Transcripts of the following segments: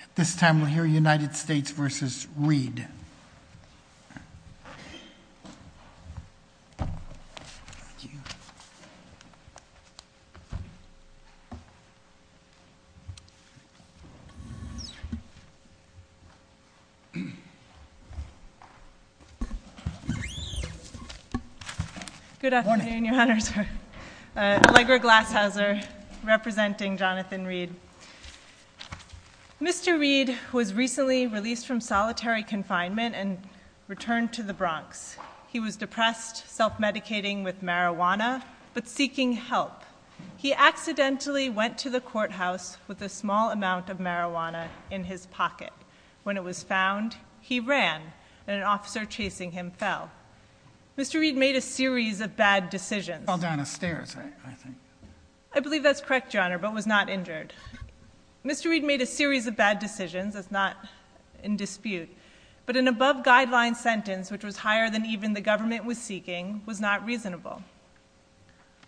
At this time we'll hear United States v. Reed. Good afternoon, your honors. Allegra Glashauser, representing Jonathan Reed. Mr. Reed was recently released from solitary confinement and returned to the Bronx. He was depressed, self-medicating with marijuana, but seeking help. He accidentally went to the courthouse with a small amount of marijuana in his pocket. When it was found, he ran, and an officer chasing him fell. Mr. Reed made a series of bad decisions. He fell down the stairs, I think. I believe that's correct, your honor, but was not injured. Mr. Reed made a series of bad decisions. That's not in dispute. But an above-guideline sentence, which was higher than even the government was seeking, was not reasonable.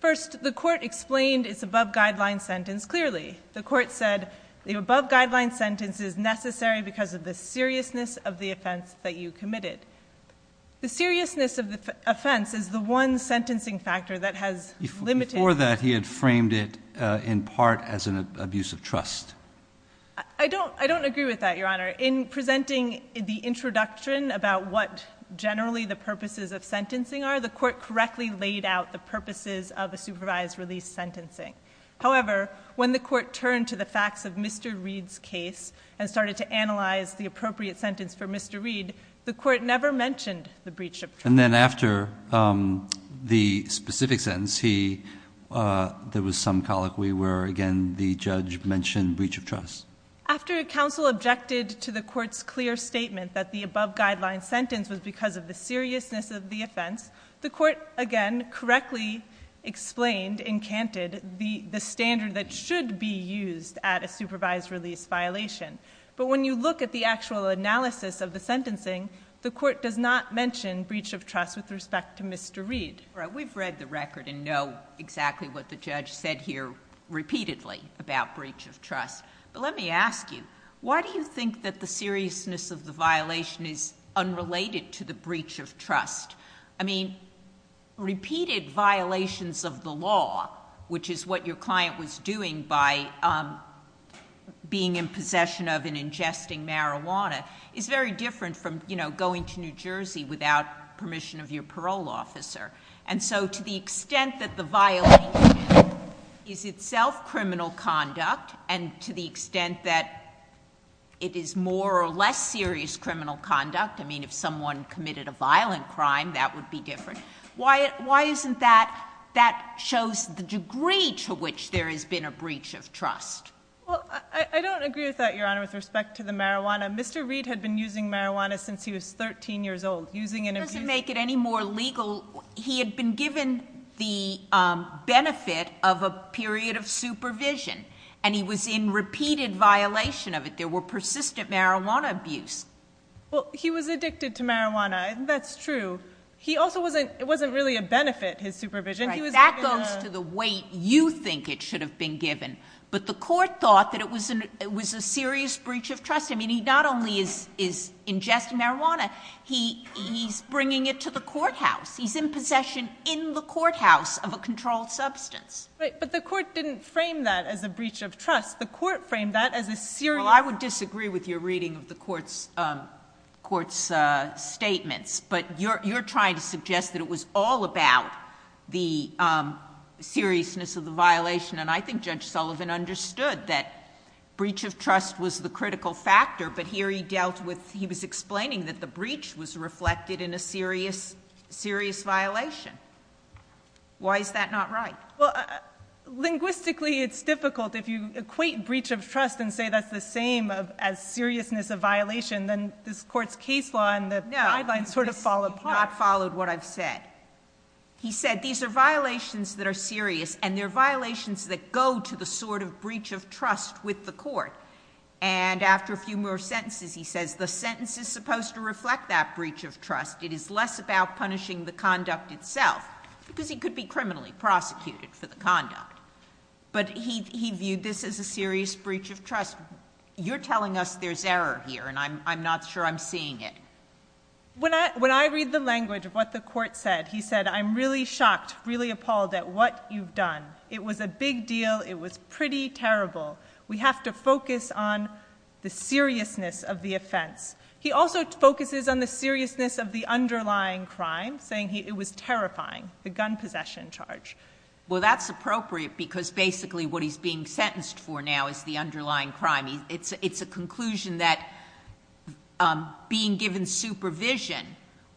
First, the court explained its above-guideline sentence clearly. The court said the above-guideline sentence is necessary because of the seriousness of the offense that you committed. The seriousness of the offense is the one sentencing factor that has limited... I don't agree with that, your honor. In presenting the introduction about what generally the purposes of sentencing are, the court correctly laid out the purposes of a supervised release sentencing. However, when the court turned to the facts of Mr. Reed's case and started to analyze the appropriate sentence for Mr. Reed, the court never mentioned the breach of trust. And then after the specific sentence, there was some colloquy where, again, the judge mentioned breach of trust. After counsel objected to the court's clear statement that the above-guideline sentence was because of the seriousness of the offense, the court, again, correctly explained, encanted, the standard that should be used at a supervised release violation. But when you look at the actual analysis of the sentencing, the court does not mention breach of trust with respect to Mr. Reed. We've read the record and know exactly what the judge said here repeatedly about breach of trust. But let me ask you, why do you think that the seriousness of the violation is unrelated to the breach of trust? I mean, repeated violations of the law, which is what your client was doing by being in possession of and ingesting marijuana, is very different from going to New Jersey without permission of your parole officer. And so to the extent that the violation is itself criminal conduct, and to the extent that it is more or less serious criminal conduct, I mean, if someone committed a violent crime, that would be different. Why isn't that? That shows the degree to which there has been a breach of trust. Well, I don't agree with that, Your Honor, with respect to the marijuana. Mr. Reed had been using marijuana since he was 13 years old. Using and abusing— It doesn't make it any more legal. He had been given the benefit of a period of supervision, and he was in repeated violation of it. There were persistent marijuana abuse. Well, he was addicted to marijuana. That's true. He also wasn't—it wasn't really a benefit, his supervision. That goes to the weight you think it should have been given. But the court thought that it was a serious breach of trust. I mean, he not only is ingesting marijuana, he's bringing it to the courthouse. He's in possession in the courthouse of a controlled substance. But the court didn't frame that as a breach of trust. The court framed that as a serious— Well, I would disagree with your reading of the court's statements, but you're trying to suggest that it was all about the seriousness of the violation, and I think Judge Sullivan understood that breach of trust was the critical factor, but here he dealt with—he was explaining that the breach was reflected in a serious violation. Why is that not right? Well, linguistically it's difficult. If you equate breach of trust and say that's the same as seriousness of violation, then this Court's case law and the guidelines sort of fall apart. No, he's not followed what I've said. He said these are violations that are serious, and they're violations that go to the sort of breach of trust with the court. And after a few more sentences, he says the sentence is supposed to reflect that breach of trust. It is less about punishing the conduct itself because he could be criminally prosecuted for the conduct. But he viewed this as a serious breach of trust. You're telling us there's error here, and I'm not sure I'm seeing it. When I read the language of what the court said, he said, I'm really shocked, really appalled at what you've done. It was a big deal. It was pretty terrible. We have to focus on the seriousness of the offense. He also focuses on the seriousness of the underlying crime, saying it was terrifying, the gun possession charge. Well, that's appropriate because basically what he's being sentenced for now is the underlying crime. It's a conclusion that being given supervision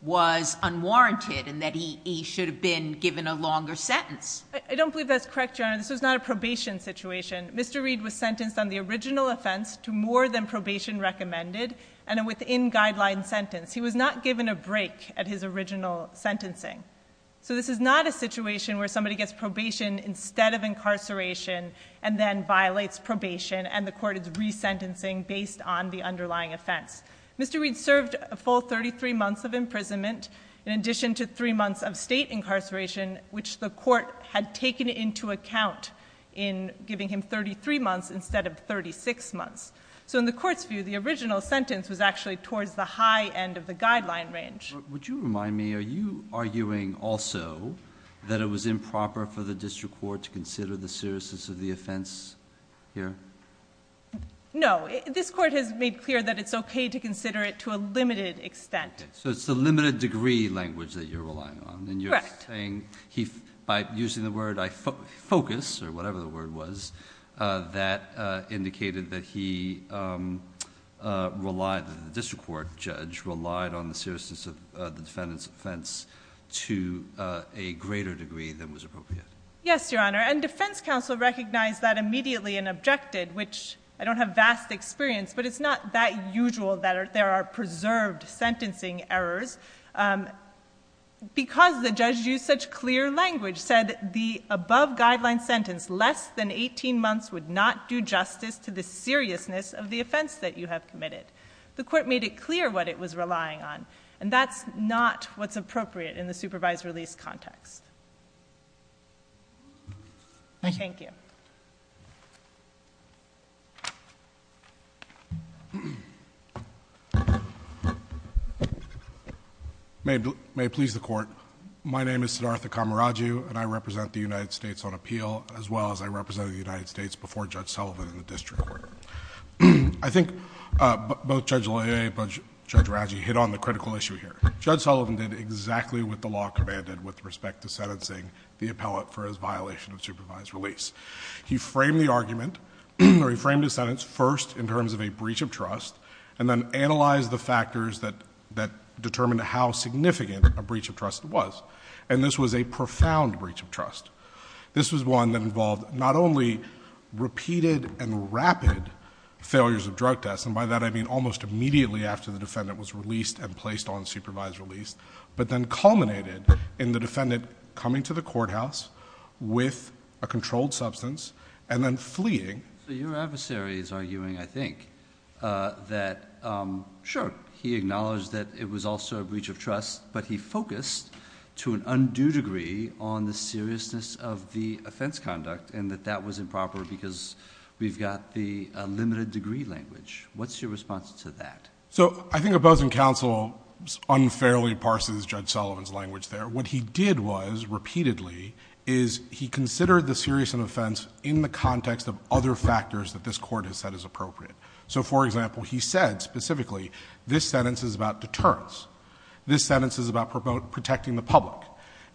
was unwarranted and that he should have been given a longer sentence. I don't believe that's correct, Your Honor. This was not a probation situation. Mr. Reed was sentenced on the original offense to more than probation recommended and a within-guideline sentence. He was not given a break at his original sentencing. So this is not a situation where somebody gets probation instead of incarceration and then violates probation, and the court is resentencing based on the underlying offense. Mr. Reed served a full 33 months of imprisonment in addition to three months of state incarceration, which the court had taken into account in giving him 33 months instead of 36 months. So in the court's view, the original sentence was actually towards the high end of the guideline range. Would you remind me, are you arguing also that it was improper for the district court to consider the seriousness of the offense here? No. This court has made clear that it's okay to consider it to a limited extent. So it's the limited degree language that you're relying on. Correct. And you're saying by using the word, I focus, or whatever the word was, that indicated that he relied, that the district court judge relied on the seriousness of the defendant's offense to a greater degree than was appropriate. Yes, Your Honor, and defense counsel recognized that immediately and objected, which I don't have vast experience, but it's not that usual that there are preserved sentencing errors. Because the judge used such clear language, said the above guideline sentence, less than 18 months would not do justice to the seriousness of the offense that you have committed. The court made it clear what it was relying on, and that's not what's appropriate in the supervised release context. Thank you. May it please the court. My name is Siddhartha Kamaraju, and I represent the United States on appeal, as well as I represented the United States before Judge Sullivan in the district court. I think both Judge Lea and Judge Raji hit on the critical issue here. Judge Sullivan did exactly what the law commanded with respect to sentencing the appellate for his violation of supervised release. He framed the argument, or he framed his sentence first in terms of a breach of trust, and then analyzed the factors that determined how significant a breach of trust was, and this was a profound breach of trust. This was one that involved not only repeated and rapid failures of drug tests, and by that I mean almost immediately after the defendant was released and placed on supervised release, but then culminated in the defendant coming to the courthouse with a controlled substance and then fleeing. So your adversary is arguing, I think, that, sure, he acknowledged that it was also a breach of trust, but he focused to an undue degree on the seriousness of the offense conduct and that that was improper because we've got the limited degree language. What's your response to that? So I think opposing counsel unfairly parses Judge Sullivan's language there. What he did was repeatedly is he considered the seriousness of offense in the context of other factors that this Court has said is appropriate. So, for example, he said specifically this sentence is about deterrence, this sentence is about protecting the public,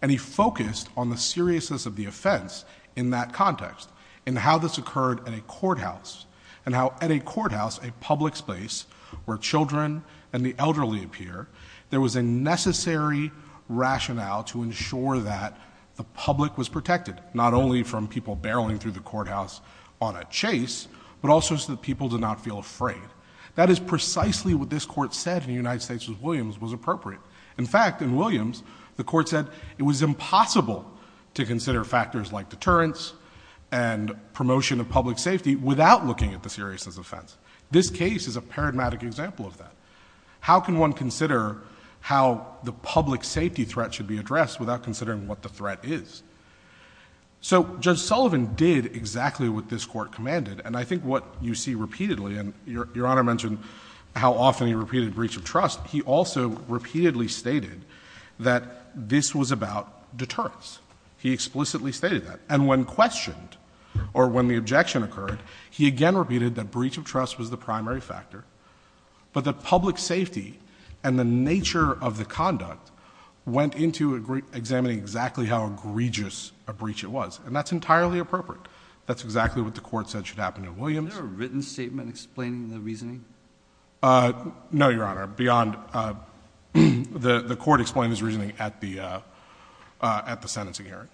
and he focused on the seriousness of the offense in that context and how this occurred at a courthouse and how at a courthouse, a public space where children and the elderly appear, there was a necessary rationale to ensure that the public was protected, not only from people barreling through the courthouse on a chase, but also so that people did not feel afraid. That is precisely what this Court said in the United States v. Williams was appropriate. In fact, in Williams, the Court said it was impossible to consider factors like deterrence and promotion of public safety without looking at the seriousness of offense. This case is a paradigmatic example of that. How can one consider how the public safety threat should be addressed without considering what the threat is? So Judge Sullivan did exactly what this Court commanded, and I think what you see repeatedly, and Your Honor mentioned how often he repeated breach of trust, he also repeatedly stated that this was about deterrence. He explicitly stated that. And when questioned or when the objection occurred, he again repeated that breach of trust was the primary factor, but the public safety and the nature of the conduct went into examining exactly how egregious a breach it was, and that's entirely appropriate. That's exactly what the Court said should happen in Williams. Is there a written statement explaining the reasoning? No, Your Honor, beyond the Court explaining his reasoning at the sentencing hearing.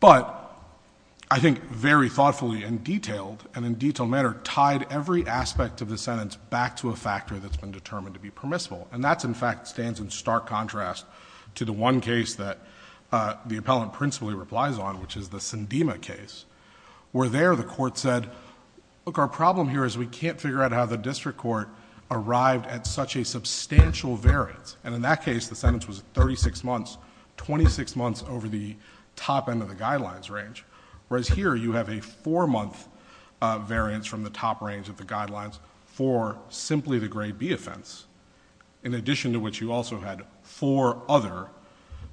But I think very thoughtfully and detailed, and in a detailed manner, tied every aspect of the sentence back to a factor that's been determined to be permissible, and that in fact stands in stark contrast to the one case that the appellant principally replies on, which is the Sandema case, where there the Court said, look, our problem here is we can't figure out how the district court arrived at such a substantial variance, and in that case the sentence was 36 months, 26 months over the top end of the guidelines range, whereas here you have a four-month variance from the top range of the guidelines for simply the Grade B offense, in addition to which you also had four other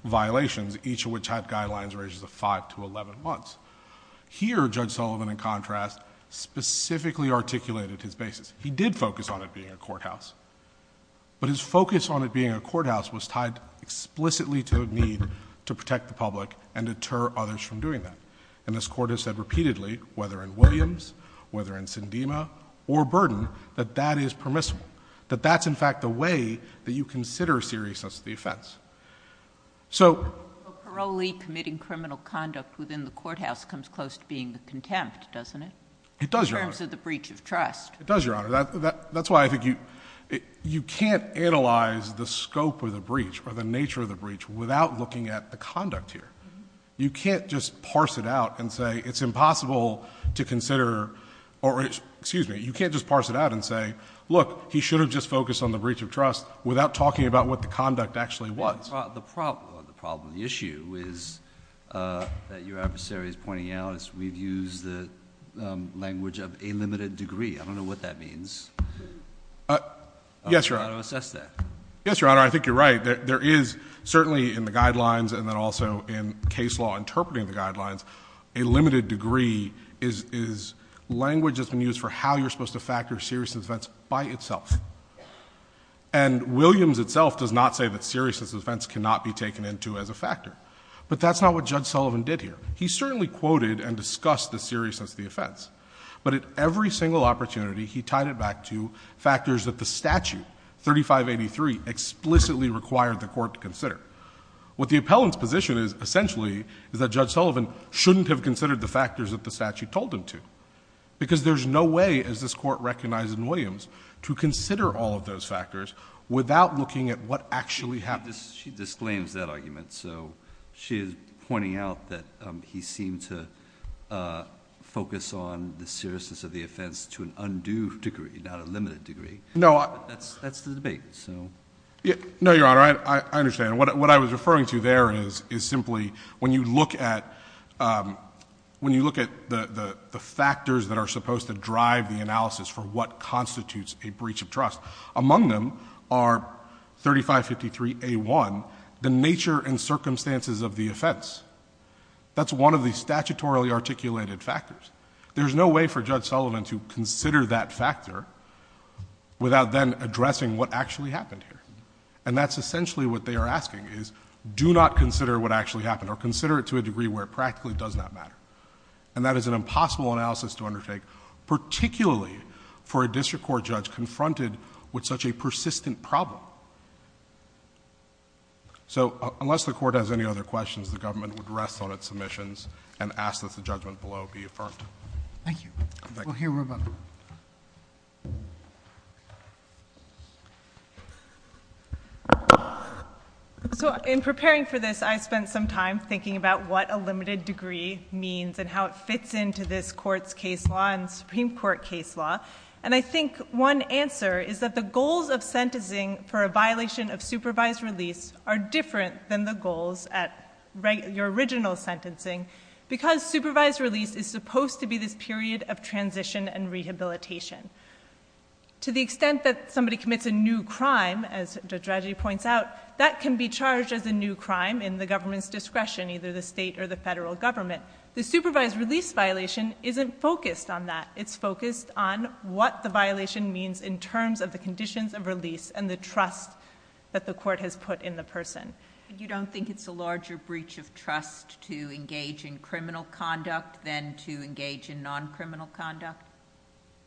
violations, each of which had guidelines ranges of 5 to 11 months. Here Judge Sullivan, in contrast, specifically articulated his basis. He did focus on it being a courthouse, but his focus on it being a courthouse was tied explicitly to a need to protect the public and deter others from doing that. And this Court has said repeatedly, whether in Williams, whether in Sandema, or Burden, that that is permissible, that that's in fact the way that you consider seriousness of the offense. So... But parolee committing criminal conduct within the courthouse comes close to being the contempt, doesn't it? It does, Your Honor. In terms of the breach of trust. It does, Your Honor. That's why I think you can't analyze the scope of the breach or the nature of the breach without looking at the conduct here. You can't just parse it out and say it's impossible to consider, or excuse me, you can't just parse it out and say, look, he should have just focused on the breach of trust without talking about what the conduct actually was. The problem, the issue is that your adversary is pointing out we've used the language of a limited degree. I don't know what that means. Yes, Your Honor. I don't know how to assess that. Yes, Your Honor. I think you're right. There is certainly in the guidelines and then also in case law interpreting the guidelines, a limited degree is language that's been used for how you're supposed to factor seriousness of offense by itself. And Williams itself does not say that seriousness of offense cannot be taken into as a factor. But that's not what Judge Sullivan did here. He certainly quoted and discussed the seriousness of the offense. But at every single opportunity, he tied it back to factors that the statute, 3583, explicitly required the court to consider. What the appellant's position is, essentially, is that Judge Sullivan shouldn't have considered the factors that the statute told him to. Because there's no way, as this Court recognized in Williams, to consider all of those factors without looking at what actually happened. She disclaims that argument. So she is pointing out that he seemed to focus on the seriousness of the offense to an undue degree, not a limited degree. That's the debate. No, Your Honor, I understand. What I was referring to there is simply when you look at the factors that are supposed to drive the analysis for what constitutes a breach of trust, among them are 3553A1, the nature and circumstances of the offense. That's one of the statutorily articulated factors. There's no way for Judge Sullivan to consider that factor without then addressing what actually happened here. And that's essentially what they are asking, is do not consider what actually happened or consider it to a degree where it practically does not matter. And that is an impossible analysis to undertake, particularly for a district court judge confronted with such a persistent problem. So unless the Court has any other questions, the government would rest on its submissions and ask that the judgment below be affirmed. Thank you. We'll hear from her. So in preparing for this, I spent some time thinking about what a limited degree means and how it fits into this Court's case law and Supreme Court case law. And I think one answer is that the goals of sentencing for a violation of supervised release are different than the goals at your original sentencing because supervised release is supposed to be this period of transition and rehabilitation. To the extent that somebody commits a new crime, as Judge Raji points out, that can be charged as a new crime in the government's discretion, either the state or the federal government. The supervised release violation isn't focused on that. It's focused on what the violation means in terms of the conditions of release and the trust that the Court has put in the person. You don't think it's a larger breach of trust to engage in criminal conduct than to engage in non-criminal conduct?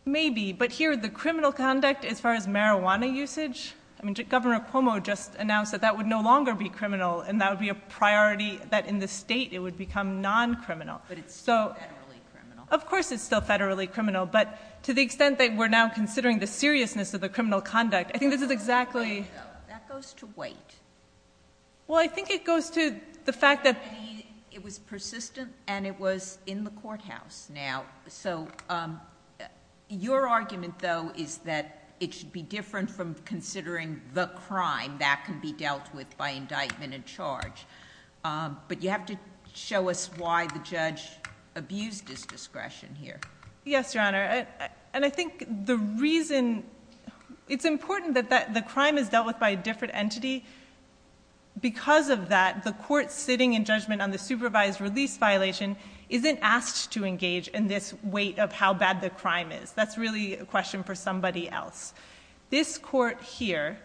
Maybe, but here, the criminal conduct, as far as marijuana usage... I mean, Governor Cuomo just announced that that would no longer be criminal and that would be a priority, that in the state it would become non-criminal. But it's still federally criminal. Of course it's still federally criminal, but to the extent that we're now considering the seriousness of the criminal conduct, I think this is exactly... That goes to wait. Well, I think it goes to the fact that... It was persistent and it was in the courthouse now. So your argument, though, is that it should be different from considering the crime that can be dealt with by indictment and charge. But you have to show us why the judge abused his discretion here. Yes, Your Honor. And I think the reason... It's important that the crime is dealt with by a different entity. Because of that, the court sitting in judgment on the supervised release violation isn't asked to engage in this weight of how bad the crime is. That's really a question for somebody else. This court here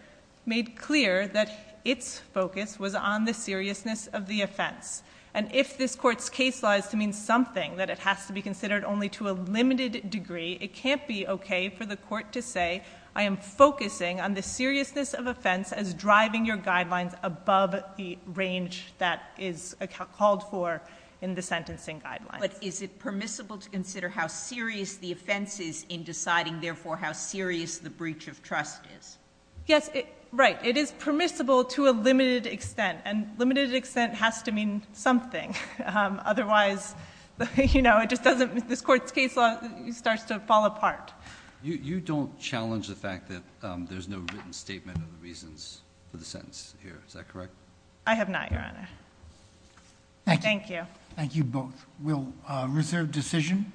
made clear that its focus was on the seriousness of the offense. And if this court's case law is to mean something, that it has to be considered only to a limited degree, it can't be okay for the court to say, I am focusing on the seriousness of offense as driving your guidelines above the range that is called for in the sentencing guidelines. But is it permissible to consider how serious the offense is in deciding, therefore, how serious the breach of trust is? Yes, right. It is permissible to a limited extent. And limited extent has to mean something. Otherwise, you know, it just doesn't... This court's case law starts to fall apart. You don't challenge the fact that there's no written statement of the reasons for the sentence here, is that correct? I have not, Your Honor. Thank you. Thank you both. We'll reserve decision.